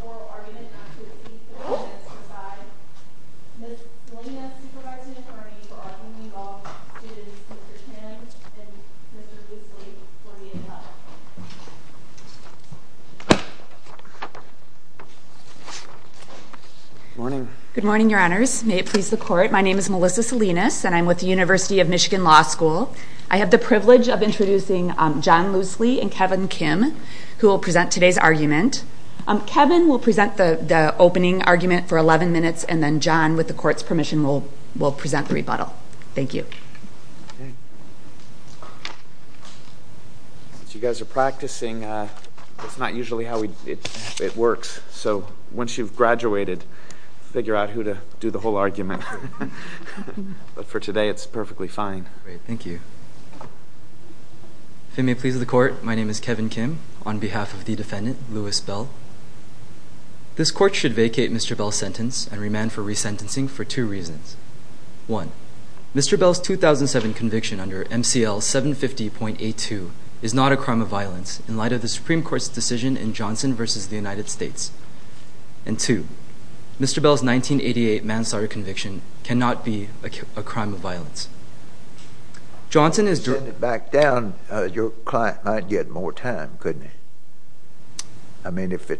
Moral Argument Act of 1875. Ms. Salinas, Supervising Attorney, will often involve students Mr. Chan and Mr. Goosley, 48-11. Good morning. Good morning, Your Honors. May it please the Court, my name is Melissa Salinas and I'm with the University of Michigan Law School. I have the privilege of introducing John Loosley and Kevin Kim, who will present today's argument. Kevin will present the opening argument for 11 minutes and then John, with the Court's permission, will present the rebuttal. Thank you. Since you guys are practicing, that's not usually how it works, so once you've graduated, figure out who to do the whole argument. But for today, it's perfectly fine. Great, thank you. If it may please the Court, my name is Kevin Kim on behalf of the defendant, Lewis Bell. This Court should vacate Mr. Bell's sentence and remand for resentencing for two reasons. One, Mr. Bell's 2007 conviction under MCL 750.82 is not a crime of violence in light of the Supreme Court's decision in Johnson v. the United States. And two, Mr. Bell's 1988 manslaughter conviction cannot be a crime of violence. If you send it back down, your client might get more time, couldn't he? I mean, if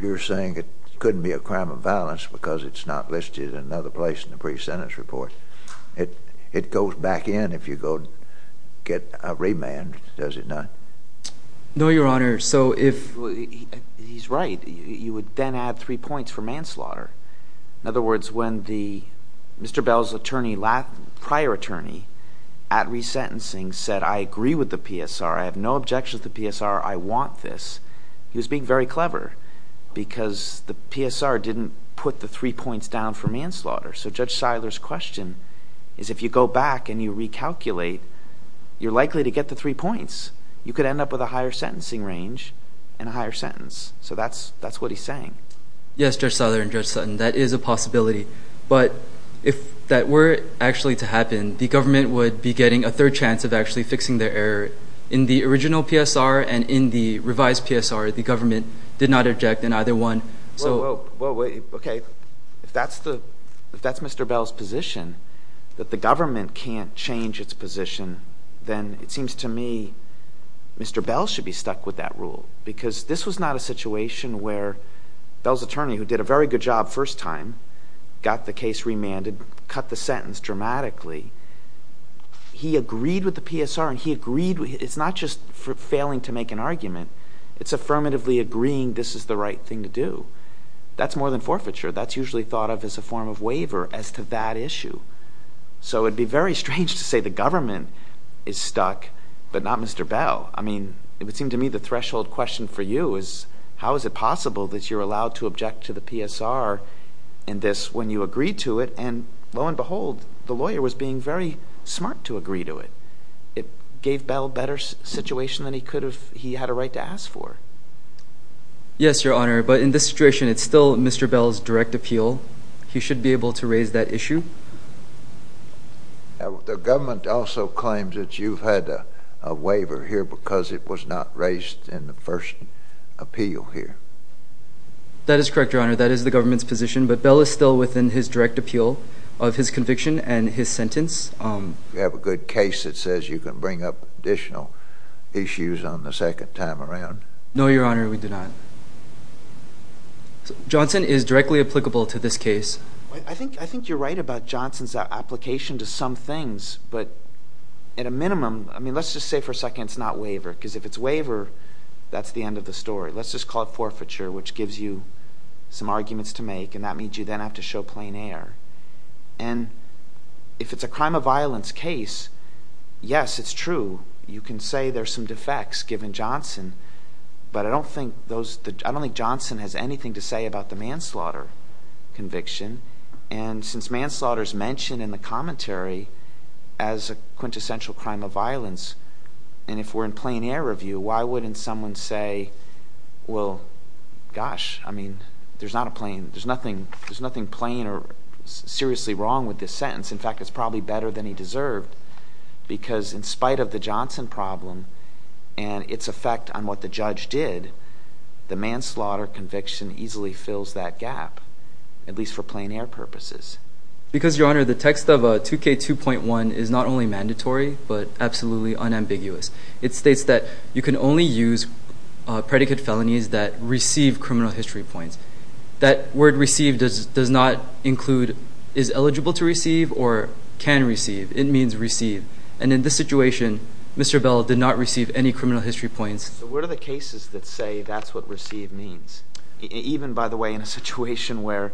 you're saying it couldn't be a crime of violence because it's not listed in another place in the pre-sentence report, it goes back in if you go get a remand, does it not? No, Your Honor. He's right. You would then add three points for manslaughter. In other words, when Mr. Bell's prior attorney at resentencing said, I agree with the PSR. I have no objection to the PSR. I want this. He was being very clever because the PSR didn't put the three points down for manslaughter. So Judge Seiler's question is if you go back and you recalculate, you're likely to get the three points. You could end up with a higher sentencing range and a higher sentence. So that's what he's saying. Yes, Judge Seiler and Judge Sutton, that is a possibility. But if that were actually to happen, the government would be getting a third chance of actually fixing their error. In the original PSR and in the revised PSR, the government did not object in either one. Okay. If that's Mr. Bell's position, that the government can't change its position, then it seems to me Mr. Bell should be stuck with that rule. Because this was not a situation where Bell's attorney, who did a very good job first time, got the case remanded, cut the sentence dramatically. He agreed with the PSR and he agreed... it's not just for failing to make an argument. It's affirmatively agreeing this is the right thing to do. That's more than forfeiture. That's usually thought of as a form of waiver as to that issue. So it would be very strange to say the government is stuck but not Mr. Bell. I mean, it would seem to me the threshold question for you is how is it possible that you're allowed to object to the PSR in this when you agree to it? And lo and behold, the lawyer was being very smart to agree to it. It gave Bell a better situation than he could have... he had a right to ask for. Yes, Your Honor. But in this situation, it's still Mr. Bell's direct appeal. He should be able to raise that issue. The government also claims that you've had a waiver here because it was not raised in the first appeal here. That is correct, Your Honor. That is the government's position. But Bell is still within his direct appeal of his conviction and his sentence. You have a good case that says you can bring up additional issues on the second time around. No, Your Honor, we do not. Johnson is directly applicable to this case. I think you're right about Johnson's application to some things. But at a minimum, I mean, let's just say for a second it's not waiver because if it's waiver, that's the end of the story. Let's just call it forfeiture, which gives you some arguments to make, and that means you then have to show plain air. And if it's a crime of violence case, yes, it's true. You can say there's some defects given Johnson. But I don't think Johnson has anything to say about the manslaughter conviction. And since manslaughter is mentioned in the commentary as a quintessential crime of violence, and if we're in plain air review, why wouldn't someone say, well, gosh, I mean, there's not a plain – there's nothing plain or seriously wrong with this sentence. In fact, it's probably better than he deserved because in spite of the Johnson problem and its effect on what the judge did, the manslaughter conviction easily fills that gap, at least for plain air purposes. Because, Your Honor, the text of 2K2.1 is not only mandatory but absolutely unambiguous. It states that you can only use predicate felonies that receive criminal history points. That word receive does not include is eligible to receive or can receive. It means receive. And in this situation, Mr. Bell did not receive any criminal history points. So what are the cases that say that's what receive means, even, by the way, in a situation where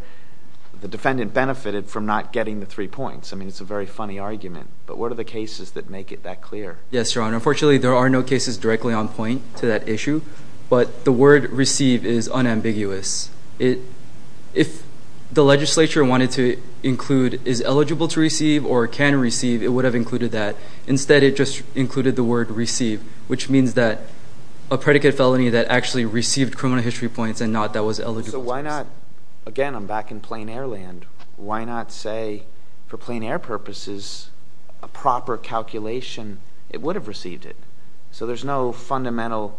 the defendant benefited from not getting the three points? I mean, it's a very funny argument. But what are the cases that make it that clear? Yes, Your Honor. Unfortunately, there are no cases directly on point to that issue. But the word receive is unambiguous. If the legislature wanted to include is eligible to receive or can receive, it would have included that. Instead, it just included the word receive, which means that a predicate felony that actually received criminal history points and not that was eligible to receive. Again, I'm back in plain air land. Why not say, for plain air purposes, a proper calculation, it would have received it? So there's no fundamental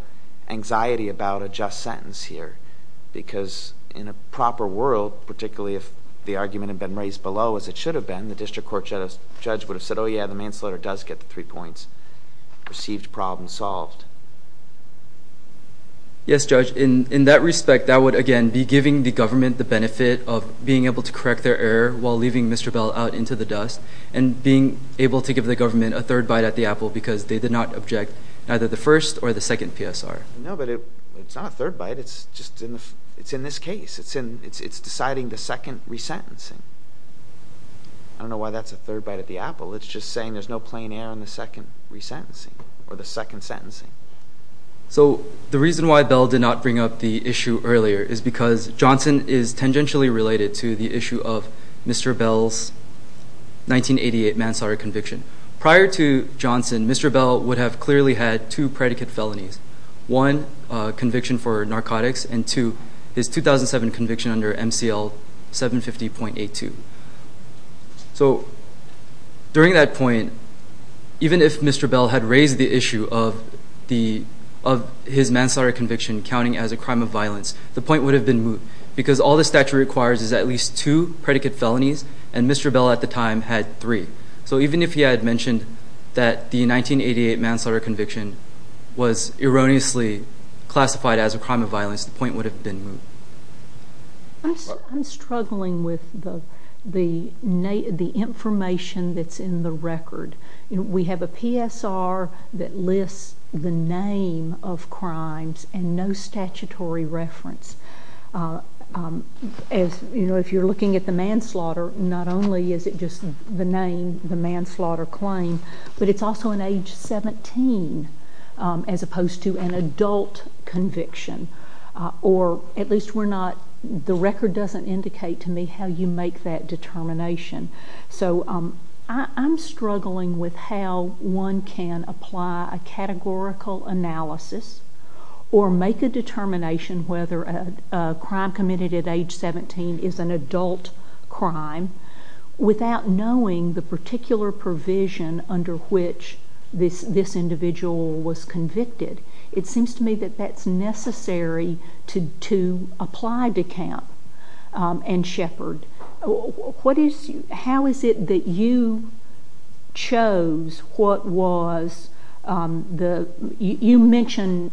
anxiety about a just sentence here because in a proper world, particularly if the argument had been raised below as it should have been, the district court judge would have said, oh, yeah, the manslaughter does get the three points. Received problem solved. Yes, Judge. In that respect, that would, again, be giving the government the benefit of being able to correct their error while leaving Mr. Bell out into the dust and being able to give the government a third bite at the apple because they did not object either the first or the second PSR. No, but it's not a third bite. It's just in this case. It's deciding the second resentencing. I don't know why that's a third bite at the apple. It's just saying there's no plain air in the second resentencing or the second sentencing. So the reason why Bell did not bring up the issue earlier is because Johnson is tangentially related to the issue of Mr. Bell's 1988 manslaughter conviction. Prior to Johnson, Mr. Bell would have clearly had two predicate felonies, one conviction for narcotics and two, his 2007 conviction under MCL 750.82. So during that point, even if Mr. Bell had raised the issue of his manslaughter conviction counting as a crime of violence, the point would have been moved because all the statute requires is at least two predicate felonies, and Mr. Bell at the time had three. So even if he had mentioned that the 1988 manslaughter conviction was erroneously classified as a crime of violence, the point would have been moved. I'm struggling with the information that's in the record. We have a PSR that lists the name of crimes and no statutory reference. If you're looking at the manslaughter, not only is it just the name, the manslaughter claim, but it's also an age 17 as opposed to an adult conviction. Or at least we're not, the record doesn't indicate to me how you make that determination. So I'm struggling with how one can apply a categorical analysis or make a determination whether a crime committed at age 17 is an adult crime without knowing the particular provision under which this individual was convicted. It seems to me that that's necessary to apply to Camp and Shepard. How is it that you chose what was the, you mentioned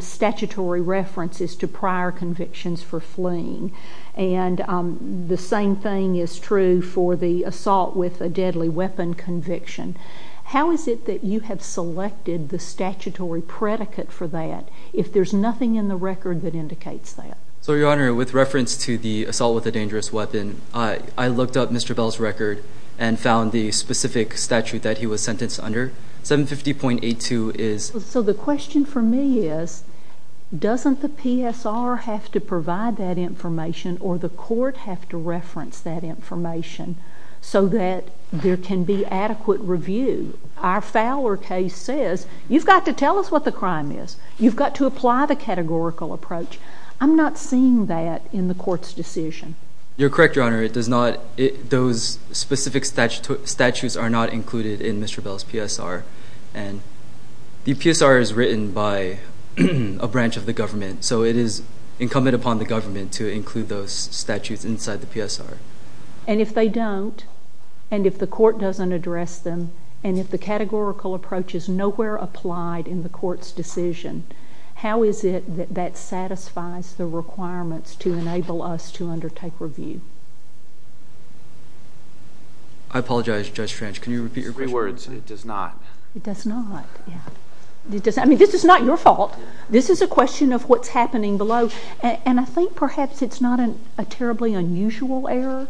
statutory references to prior convictions for fleeing, and the same thing is true for the assault with a deadly weapon conviction. How is it that you have selected the statutory predicate for that if there's nothing in the record that indicates that? So Your Honor, with reference to the assault with a dangerous weapon, I looked up Mr. Bell's record and found the specific statute that he was sentenced under. 750.82 is... So the question for me is, doesn't the PSR have to provide that information or the court have to reference that information so that there can be adequate review? Our Fowler case says, you've got to tell us what the crime is. You've got to apply the categorical approach. I'm not seeing that in the court's decision. You're correct, Your Honor. Those specific statutes are not included in Mr. Bell's PSR. The PSR is written by a branch of the government, so it is incumbent upon the government to include those statutes inside the PSR. And if they don't, and if the court doesn't address them, and if the categorical approach is nowhere applied in the court's decision, how is it that that satisfies the requirements to enable us to undertake review? I apologize, Judge French. Can you repeat your question? Three words. It does not. It does not, yeah. I mean, this is not your fault. This is a question of what's happening below, and I think perhaps it's not a terribly unusual error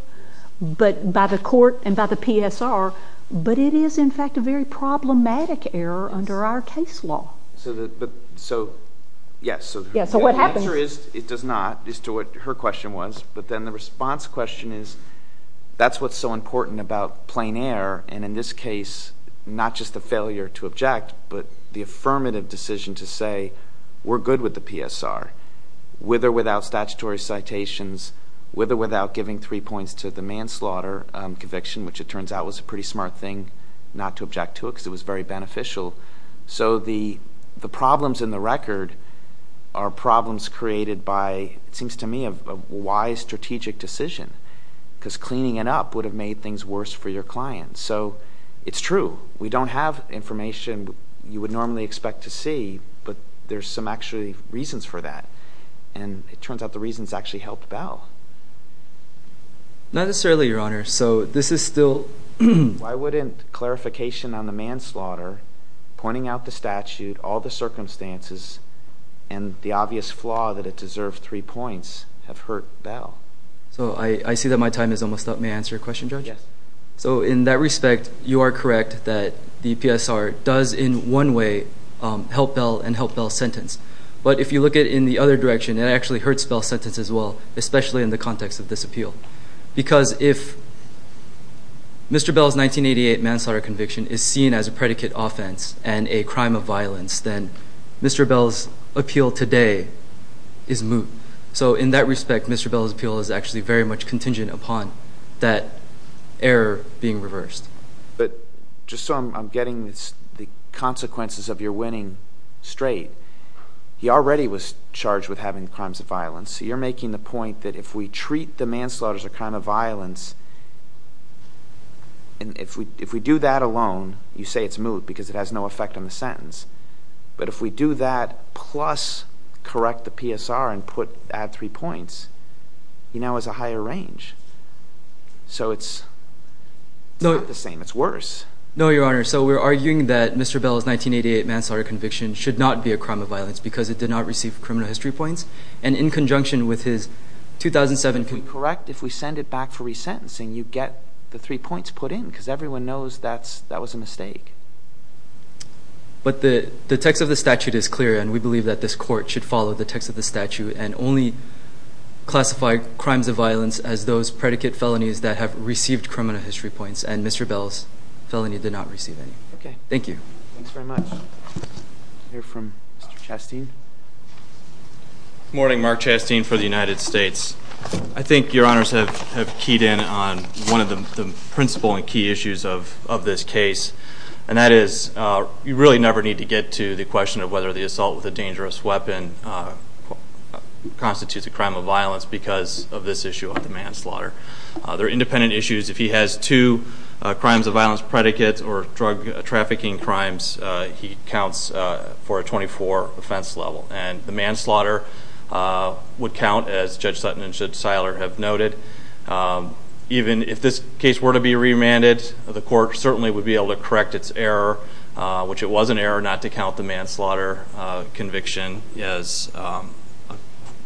by the court and by the PSR, but it is, in fact, a very problematic error under our case law. So, yes. So what happens? The answer is it does not, as to what her question was, but then the response question is that's what's so important about plain error, and in this case, not just the failure to object, but the affirmative decision to say we're good with the PSR, with or without statutory citations, with or without giving three points to the manslaughter conviction, which it turns out was a pretty smart thing not to object to it because it was very beneficial. So the problems in the record are problems created by, it seems to me, a wise strategic decision because cleaning it up would have made things worse for your client. So it's true. We don't have information you would normally expect to see, but there's some actually reasons for that, and it turns out the reasons actually helped Bell. Not necessarily, Your Honor. Why wouldn't clarification on the manslaughter, pointing out the statute, all the circumstances, and the obvious flaw that it deserved three points have hurt Bell? So I see that my time is almost up. May I answer your question, Judge? Yes. So in that respect, you are correct that the PSR does in one way help Bell and help Bell's sentence, but if you look at it in the other direction, it actually hurts Bell's sentence as well, especially in the context of this appeal because if Mr. Bell's 1988 manslaughter conviction is seen as a predicate offense and a crime of violence, then Mr. Bell's appeal today is moot. So in that respect, Mr. Bell's appeal is actually very much contingent upon that error being reversed. But just so I'm getting the consequences of your winning straight, so you're making the point that if we treat the manslaughter as a crime of violence, and if we do that alone, you say it's moot because it has no effect on the sentence, but if we do that plus correct the PSR and add three points, you know it's a higher range. So it's not the same. It's worse. No, Your Honor. So we're arguing that Mr. Bell's 1988 manslaughter conviction should not be a crime of violence because it did not receive criminal history points, and in conjunction with his 2007- If we correct, if we send it back for resentencing, you get the three points put in because everyone knows that was a mistake. But the text of the statute is clear, and we believe that this court should follow the text of the statute and only classify crimes of violence as those predicate felonies that have received criminal history points, and Mr. Bell's felony did not receive any. Okay. Thank you. Thanks very much. We'll hear from Mr. Chasteen. Good morning, Mark Chasteen for the United States. I think Your Honors have keyed in on one of the principal and key issues of this case, and that is you really never need to get to the question of whether the assault with a dangerous weapon constitutes a crime of violence because of this issue of the manslaughter. They're independent issues. If he has two crimes of violence predicates or drug trafficking crimes, he counts for a 24 offense level, and the manslaughter would count, as Judge Sutton and Judge Seiler have noted. Even if this case were to be remanded, the court certainly would be able to correct its error, which it was an error not to count the manslaughter conviction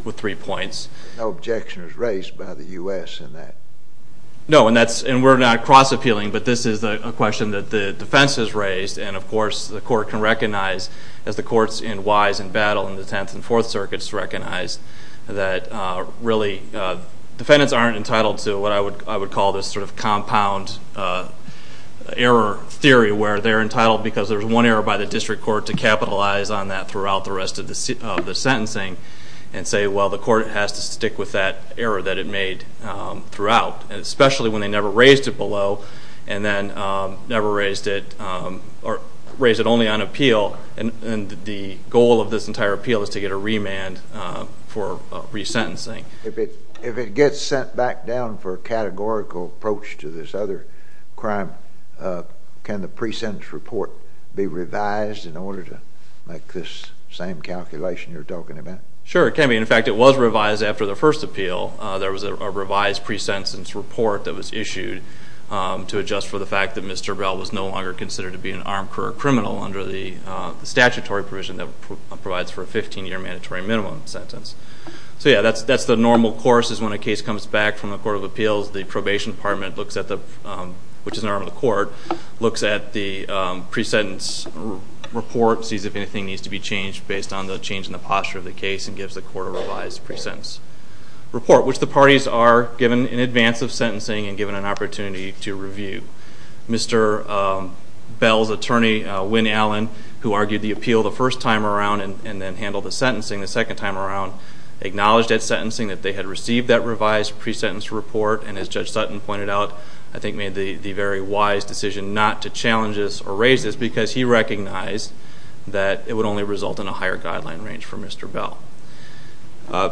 with three points. No objection is raised by the U.S. in that. No, and we're not cross-appealing, but this is a question that the defense has raised, and of course the court can recognize as the court's in wise and battle in the Tenth and Fourth Circuits recognize that really defendants aren't entitled to what I would call this sort of compound error theory where they're entitled because there's one error by the district court to capitalize on that throughout the rest of the sentencing and say, well, the court has to stick with that error that it made throughout, especially when they never raised it below and then never raised it or raised it only on appeal, and the goal of this entire appeal is to get a remand for resentencing. If it gets sent back down for a categorical approach to this other crime, can the pre-sentence report be revised in order to make this same calculation you're talking about? Sure, it can be. In fact, it was revised after the first appeal. There was a revised pre-sentence report that was issued to adjust for the fact that Mr. Bell was no longer considered to be an armed career criminal under the statutory provision that provides for a 15-year mandatory minimum sentence. So, yeah, that's the normal course is when a case comes back from the Court of Appeals. The probation department, which is an arm of the court, looks at the pre-sentence report, sees if anything needs to be changed based on the change in the posture of the case, and gives the court a revised pre-sentence report, which the parties are given in advance of sentencing and given an opportunity to review. Mr. Bell's attorney, Wynn Allen, who argued the appeal the first time around and then handled the sentencing the second time around, acknowledged at sentencing that they had received that revised pre-sentence report, and as Judge Sutton pointed out, I think made the very wise decision not to challenge this or raise this because he recognized that it would only result in a higher guideline range for Mr. Bell.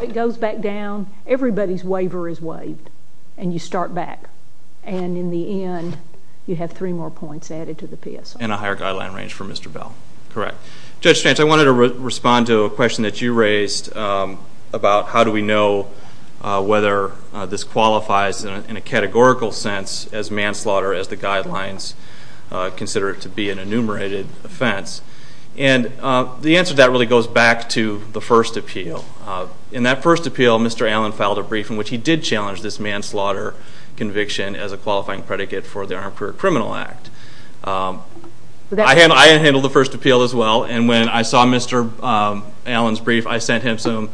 It goes back down. Everybody's waiver is waived, and you start back. And in the end, you have three more points added to the PSI. And a higher guideline range for Mr. Bell. Correct. Judge Strantz, I wanted to respond to a question that you raised about how do we know whether this qualifies in a categorical sense as manslaughter as the guidelines consider it to be an enumerated offense. And the answer to that really goes back to the first appeal. In that first appeal, Mr. Allen filed a brief in which he did challenge this manslaughter conviction as a qualifying predicate for the Armed Career Criminal Act. I handled the first appeal as well, and when I saw Mr. Allen's brief, I sent him some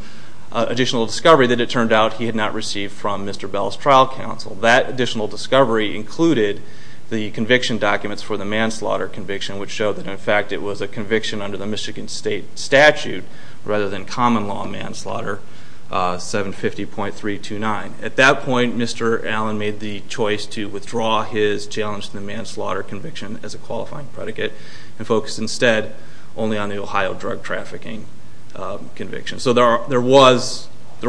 additional discovery that it turned out he had not received from Mr. Bell's trial counsel. That additional discovery included the conviction documents for the manslaughter conviction, which showed that, in fact, it was a conviction under the Michigan State statute rather than common law manslaughter, 750.329. At that point, Mr. Allen made the choice to withdraw his challenge to the manslaughter conviction as a qualifying predicate and focus instead only on the Ohio drug trafficking conviction. So there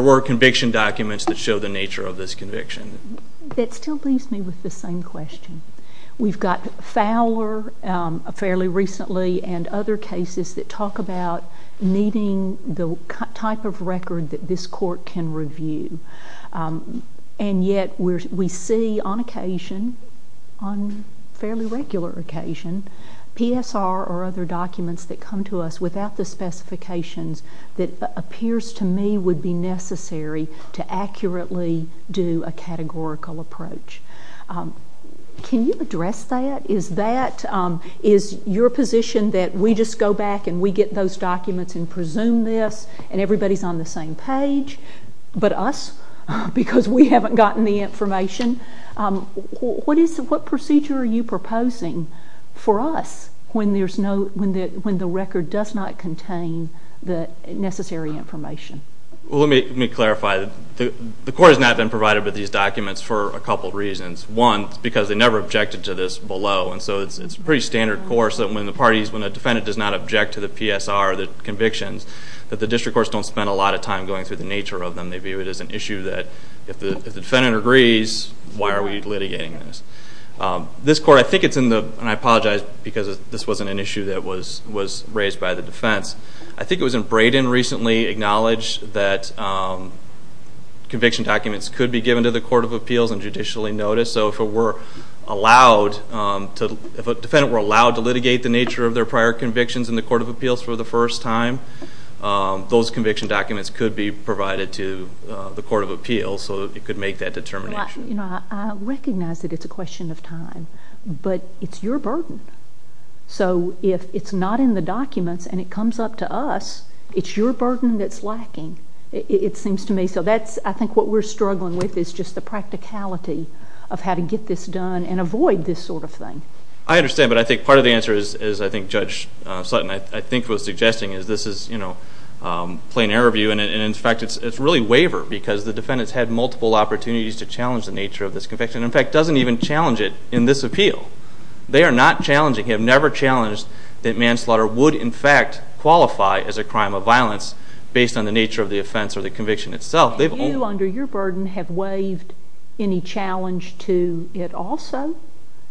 were conviction documents that show the nature of this conviction. That still leaves me with the same question. We've got Fowler fairly recently and other cases that talk about needing the type of record that this court can review. And yet we see on occasion, on fairly regular occasion, PSR or other documents that come to us without the specifications that appears to me would be necessary to accurately do a categorical approach. Can you address that? Is your position that we just go back and we get those documents and presume this and everybody's on the same page but us because we haven't gotten the information? What procedure are you proposing for us when the record does not contain the necessary information? Well, let me clarify. The court has not been provided with these documents for a couple of reasons. One, it's because they never objected to this below, and so it's a pretty standard course that when a defendant does not object to the PSR convictions, that the district courts don't spend a lot of time going through the nature of them. They view it as an issue that if the defendant agrees, why are we litigating this? This court, I think it's in the, and I apologize because this wasn't an issue that was raised by the defense. I think it was in Braden recently, acknowledged that conviction documents could be given to the court of appeals and judicially noticed. So if a defendant were allowed to litigate the nature of their prior convictions in the court of appeals for the first time, those conviction documents could be provided to the court of appeals so it could make that determination. I recognize that it's a question of time, but it's your burden. So if it's not in the documents and it comes up to us, it's your burden that's lacking, it seems to me. So I think what we're struggling with is just the practicality of how to get this done and avoid this sort of thing. I understand, but I think part of the answer is, I think Judge Sutton, I think was suggesting is this is, you know, plain error view. And in fact, it's really waiver because the defendant's had multiple opportunities to challenge the nature of this conviction. In fact, doesn't even challenge it in this appeal. They are not challenging, have never challenged that manslaughter would in fact qualify as a crime of violence based on the nature of the offense or the conviction itself. You under your burden have waived any challenge to it also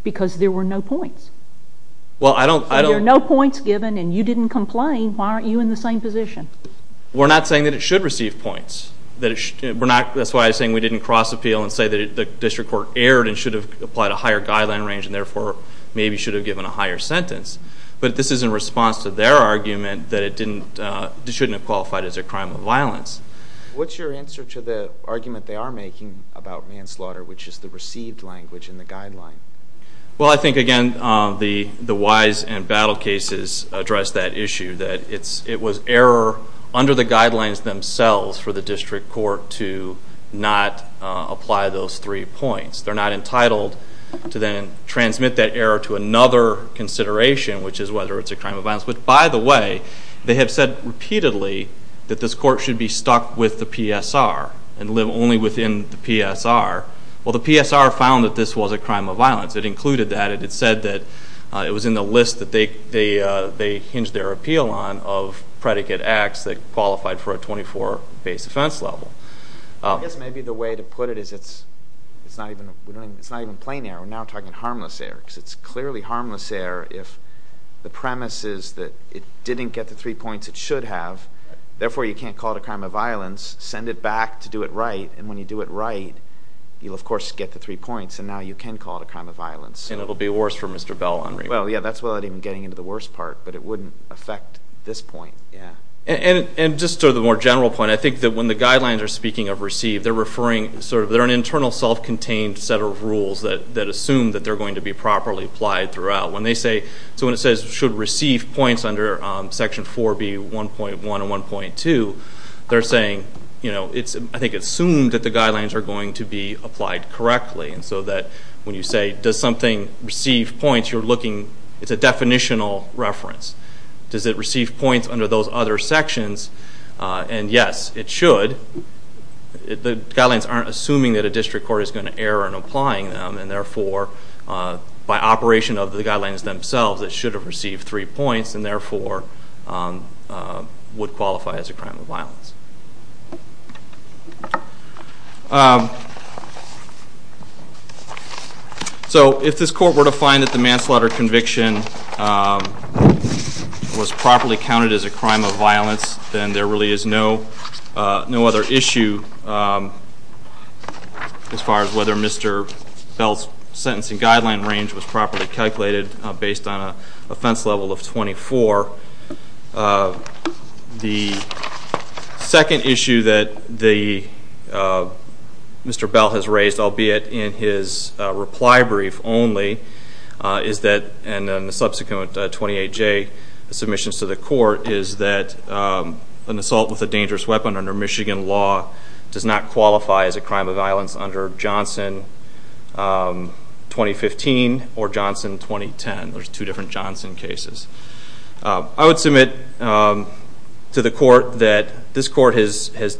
because there were no points. Well, I don't. There are no points given and you didn't complain. Why aren't you in the same position? We're not saying that it should receive points. That's why I was saying we didn't cross appeal and say that the district court erred and should have applied a higher guideline range and therefore maybe should have given a higher sentence. But this is in response to their argument that it shouldn't have qualified as a crime of violence. What's your answer to the argument they are making about manslaughter, which is the received language in the guideline? Well, I think, again, the Wise and Battle cases address that issue, that it was error under the guidelines themselves for the district court to not apply those three points. They're not entitled to then transmit that error to another consideration, which is whether it's a crime of violence. But, by the way, they have said repeatedly that this court should be stuck with the PSR and live only within the PSR. Well, the PSR found that this was a crime of violence. It included that. It said that it was in the list that they hinged their appeal on of predicate acts that qualified for a 24 base offense level. I guess maybe the way to put it is it's not even plain error. It didn't get the three points it should have. Therefore, you can't call it a crime of violence. Send it back to do it right. And when you do it right, you'll, of course, get the three points. And now you can call it a crime of violence. And it will be worse for Mr. Bell on remand. Well, yeah, that's without even getting into the worst part. But it wouldn't affect this point. And just to the more general point, I think that when the guidelines are speaking of received, they're referring sort of they're an internal self-contained set of rules that assume that they're going to be properly applied throughout. So when it says should receive points under Section 4B 1.1 and 1.2, they're saying, you know, I think it's assumed that the guidelines are going to be applied correctly. And so that when you say does something receive points, you're looking, it's a definitional reference. Does it receive points under those other sections? And, yes, it should. The guidelines aren't assuming that a district court is going to err in applying them. And, therefore, by operation of the guidelines themselves, it should have received three points and, therefore, would qualify as a crime of violence. So if this court were to find that the manslaughter conviction was properly counted as a crime of violence, then there really is no other issue as far as whether Mr. Bell's sentencing guideline range was properly calculated based on an offense level of 24. The second issue that Mr. Bell has raised, albeit in his reply brief only, and in the subsequent 28J submissions to the court, is that an assault with a dangerous weapon under Michigan law does not qualify as a crime of violence under Johnson 2015 or Johnson 2010. There's two different Johnson cases. I would submit to the court that this court has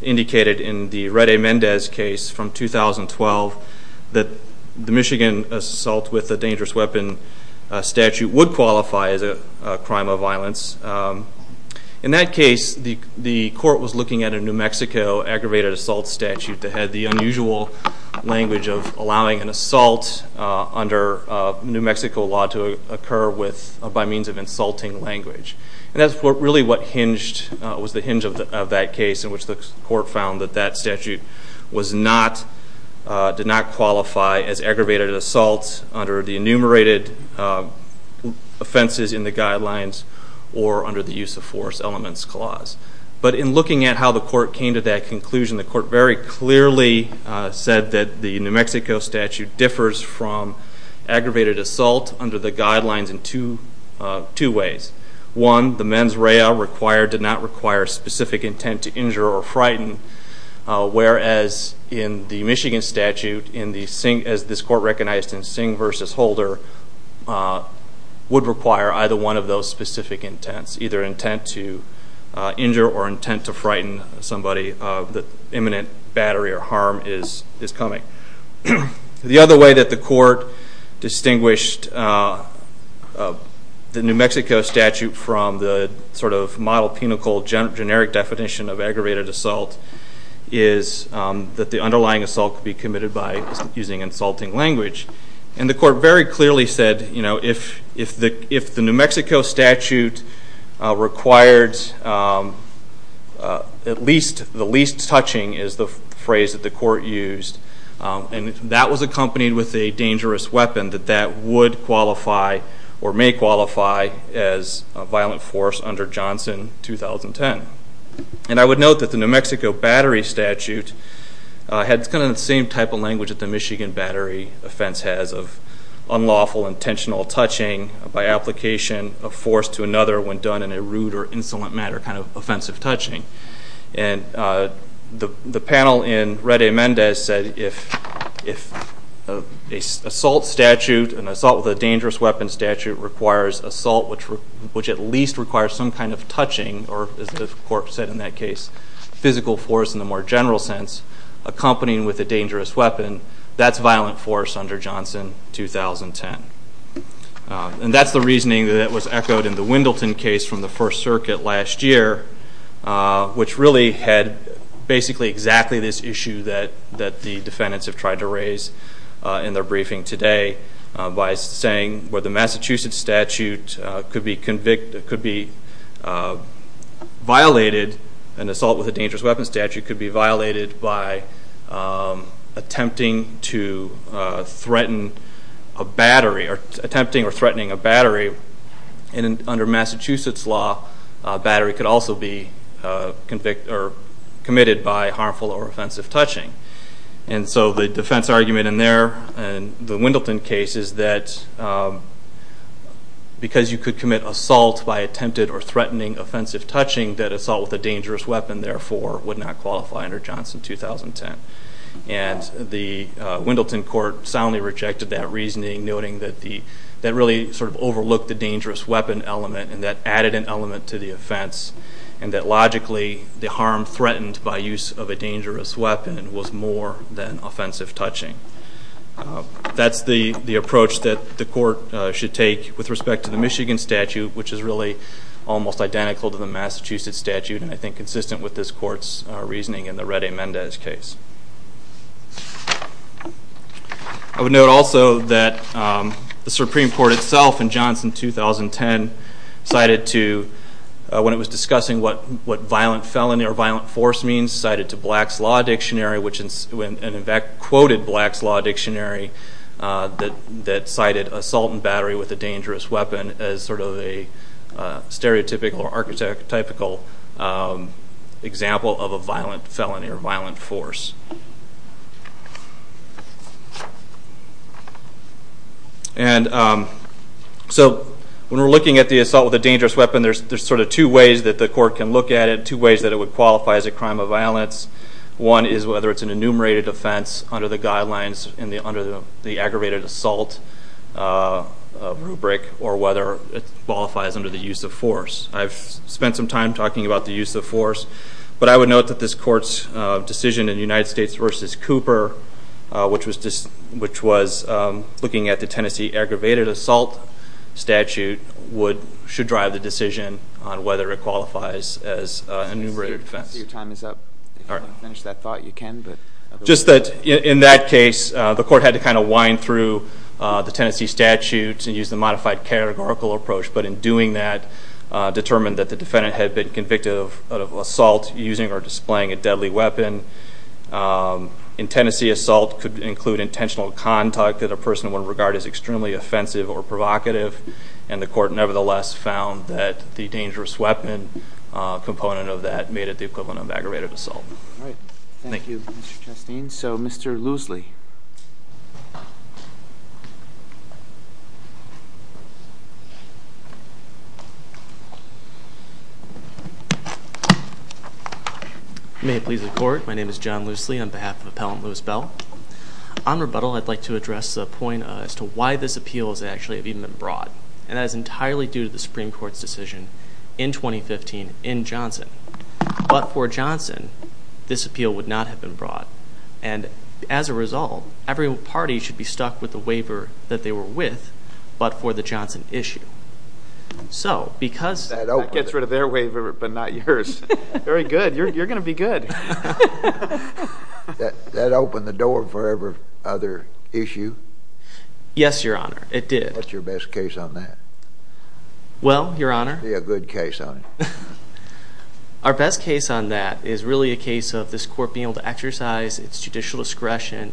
indicated in the Red A. Mendez case from 2012 that the Michigan assault with a dangerous weapon statute would qualify as a crime of violence. In that case, the court was looking at a New Mexico aggravated assault statute that had the unusual language of allowing an assault under New Mexico law to occur by means of insulting language. That was really the hinge of that case in which the court found that that statute did not qualify as aggravated assault under the enumerated offenses in the guidelines or under the use of force elements clause. But in looking at how the court came to that conclusion, the court very clearly said that the New Mexico statute differs from aggravated assault under the guidelines in two ways. One, the mens rea did not require specific intent to injure or frighten, whereas in the Michigan statute, as this court recognized in Singh v. Holder, would require either one of those specific intents, either intent to injure or intent to frighten somebody. The imminent battery or harm is coming. The other way that the court distinguished the New Mexico statute from the sort of model, pinnacle, generic definition of aggravated assault is that the underlying assault could be committed by using insulting language. And the court very clearly said if the New Mexico statute required at least, the least touching is the phrase that the court used, and that was accompanied with a dangerous weapon, that that would qualify or may qualify as a violent force under Johnson 2010. And I would note that the New Mexico battery statute had kind of the same type of language that the Michigan battery offense has of unlawful intentional touching by application of force to another when done in a rude or insolent manner kind of offensive touching. And the panel in Red Amendes said if an assault statute, an assault with a dangerous weapon statute requires assault which at least requires some kind of touching or, as the court said in that case, physical force in the more general sense, accompanying with a dangerous weapon, that's violent force under Johnson 2010. And that's the reasoning that was echoed in the Wendelton case from the First Circuit last year, which really had basically exactly this issue that the defendants have tried to raise in their briefing today by saying where the Massachusetts statute could be convicted, could be violated, an assault with a dangerous weapon statute could be violated by attempting to threaten a battery, or attempting or threatening a battery. And under Massachusetts law, a battery could also be convicted or committed by harmful or offensive touching. And so the defense argument in their, in the Wendelton case, is that because you could commit assault by attempted or threatening offensive touching, that assault with a dangerous weapon, therefore, would not qualify under Johnson 2010. And the Wendelton court soundly rejected that reasoning, noting that that really sort of overlooked the dangerous weapon element and that added an element to the offense and that, logically, the harm threatened by use of a dangerous weapon was more than offensive touching. That's the approach that the court should take with respect to the Michigan statute, which is really almost identical to the Massachusetts statute and I think consistent with this court's reasoning in the Reddy-Mendez case. I would note also that the Supreme Court itself in Johnson 2010 cited to, when it was discussing what violent felony or violent force means, it cited to Black's Law Dictionary, and in fact quoted Black's Law Dictionary, that cited assault and battery with a dangerous weapon as sort of a stereotypical or archetypical example of a violent felony or violent force. And so when we're looking at the assault with a dangerous weapon, there's sort of two ways that the court can look at it, and two ways that it would qualify as a crime of violence. One is whether it's an enumerated offense under the guidelines under the aggravated assault rubric or whether it qualifies under the use of force. I've spent some time talking about the use of force, but I would note that this court's decision in United States v. Cooper, which was looking at the Tennessee aggravated assault statute, should drive the decision on whether it qualifies as an enumerated offense. Your time is up. If you want to finish that thought, you can. Just that in that case, the court had to kind of wind through the Tennessee statute and use the modified categorical approach, but in doing that determined that the defendant had been convicted of assault using or displaying a deadly weapon. In Tennessee, assault could include intentional conduct that a person would regard as extremely offensive or provocative, and the court nevertheless found that the dangerous weapon component of that made it the equivalent of aggravated assault. All right. Thank you, Mr. Chastain. So, Mr. Loosley. May it please the Court. My name is John Loosley on behalf of Appellant Lewis Bell. On rebuttal, I'd like to address a point as to why this appeal has actually even been brought, and that is entirely due to the Supreme Court's decision in 2015 in Johnson. But for Johnson, this appeal would not have been brought, and as a result, every party should be stuck with the waiver that they were with, but for the Johnson issue. That gets rid of their waiver, but not yours. Very good. You're going to be good. That opened the door for every other issue? Yes, Your Honor. It did. What's your best case on that? Well, Your Honor. Be a good case on it. Our best case on that is really a case of this court being able to exercise its judicial discretion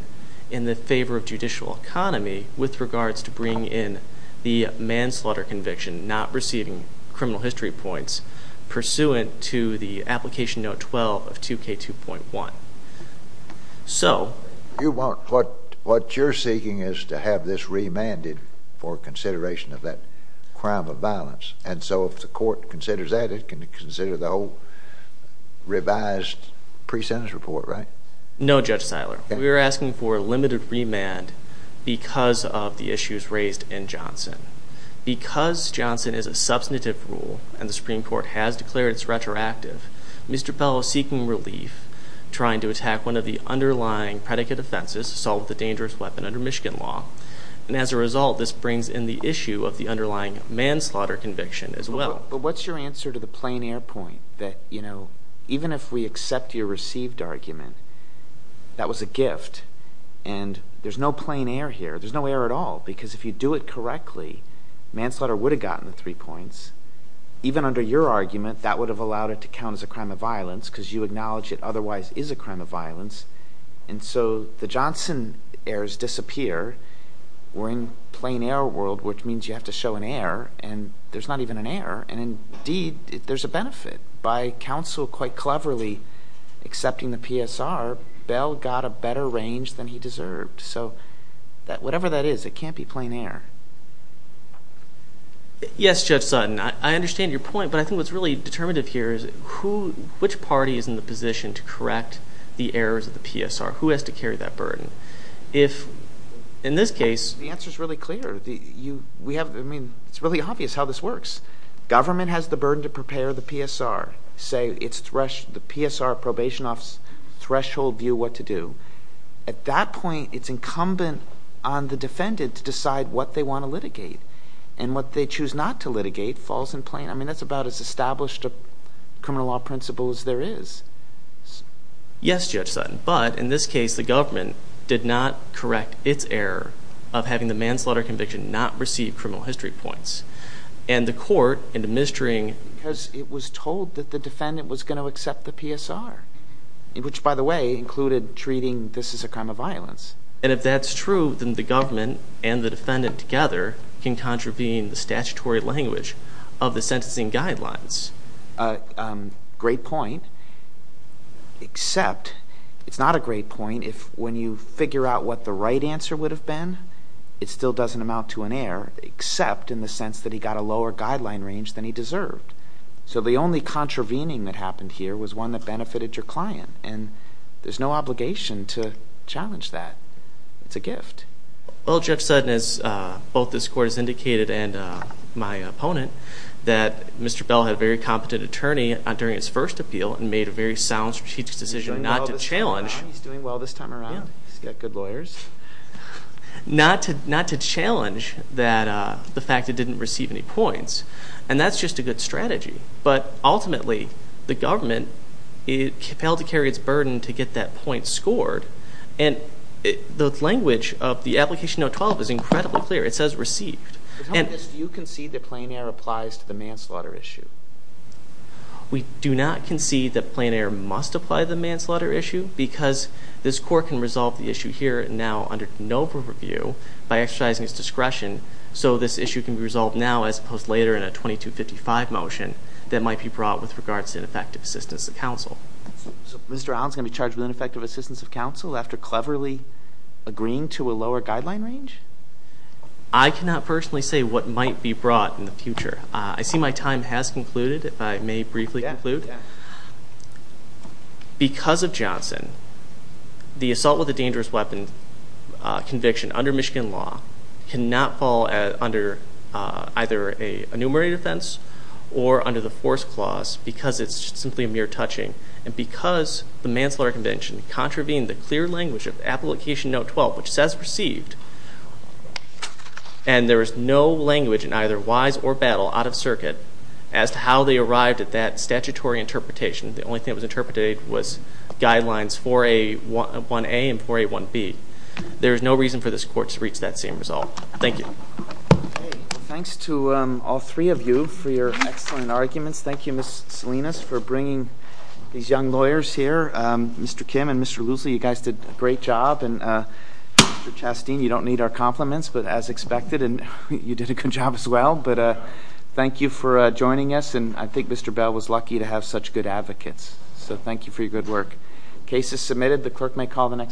in the favor of judicial economy with regards to bringing in the manslaughter conviction, not receiving criminal history points, pursuant to the Application Note 12 of 2K2.1. So? You want what you're seeking is to have this remanded for consideration of that crime of violence, and so if the court considers that, it can consider the whole revised pre-sentence report, right? No, Judge Siler. We are asking for a limited remand because of the issues raised in Johnson. Because Johnson is a substantive rule and the Supreme Court has declared it's retroactive, Mr. Pell is seeking relief, trying to attack one of the underlying predicate offenses, assault with a dangerous weapon under Michigan law. And as a result, this brings in the issue of the underlying manslaughter conviction as well. But what's your answer to the plain air point that, you know, even if we accept your received argument that was a gift and there's no plain air here, there's no air at all, because if you do it correctly, manslaughter would have gotten the three points. Even under your argument, that would have allowed it to count as a crime of violence because you acknowledge it otherwise is a crime of violence. And so the Johnson errors disappear. We're in plain air world, which means you have to show an error, and there's not even an error. And indeed, there's a benefit. By counsel quite cleverly accepting the PSR, Bell got a better range than he deserved. So whatever that is, it can't be plain air. Yes, Judge Sutton. I understand your point, but I think what's really determinative here is which party is in the position to correct the errors of the PSR? Who has to carry that burden? If in this case... The answer is really clear. I mean, it's really obvious how this works. Government has the burden to prepare the PSR, say the PSR probation office threshold view what to do. At that point, it's incumbent on the defendant to decide what they want to litigate. And what they choose not to litigate falls in plain... I mean, that's about as established a criminal law principle as there is. Yes, Judge Sutton, but in this case, the government did not correct its error of having the manslaughter conviction not receive criminal history points. And the court in administering... Because it was told that the defendant was going to accept the PSR, which, by the way, included treating this as a crime of violence. And if that's true, then the government and the defendant together can contravene the statutory language of the sentencing guidelines. Great point, except... It's not a great point if when you figure out what the right answer would have been, it still doesn't amount to an error, except in the sense that he got a lower guideline range than he deserved. So the only contravening that happened here was one that benefited your client. And there's no obligation to challenge that. It's a gift. Well, Judge Sutton, as both this court has indicated and my opponent, that Mr. Bell had a very competent attorney during his first appeal and made a very sound strategic decision not to challenge... He's doing well this time around. He's got good lawyers. Not to challenge the fact that he didn't receive any points. And that's just a good strategy. But ultimately, the government failed to carry its burden to get that point scored. And the language of the Application Note 12 is incredibly clear. It says received. But how in this do you concede that plain error applies to the manslaughter issue? We do not concede that plain error must apply to the manslaughter issue because this court can resolve the issue here and now under no review by exercising its discretion. So this issue can be resolved now as opposed to later in a 2255 motion that might be brought with regards to ineffective assistance of counsel. So Mr. Allen is going to be charged with ineffective assistance of counsel after cleverly agreeing to a lower guideline range? I cannot personally say what might be brought in the future. I see my time has concluded, if I may briefly conclude. Because of Johnson, the assault with a dangerous weapon conviction under Michigan law cannot fall under either an enumerated offense or under the force clause because it's simply a mere touching. And because the Manslaughter Convention contravened the clear language of the Application Note 12, which says received, and there is no language in either wise or battle out of circuit as to how they arrived at that statutory interpretation. The only thing that was interpreted was Guidelines 4A1A and 4A1B. There is no reason for this Court to reach that same result. Thank you. Thanks to all three of you for your excellent arguments. Thank you, Ms. Salinas, for bringing these young lawyers here. Mr. Kim and Mr. Loosley, you guys did a great job. And Mr. Chasteen, you don't need our compliments, but as expected, you did a good job as well. But thank you for joining us. And I think Mr. Bell was lucky to have such good advocates. So thank you for your good work. Case is submitted. The clerk may call the next case.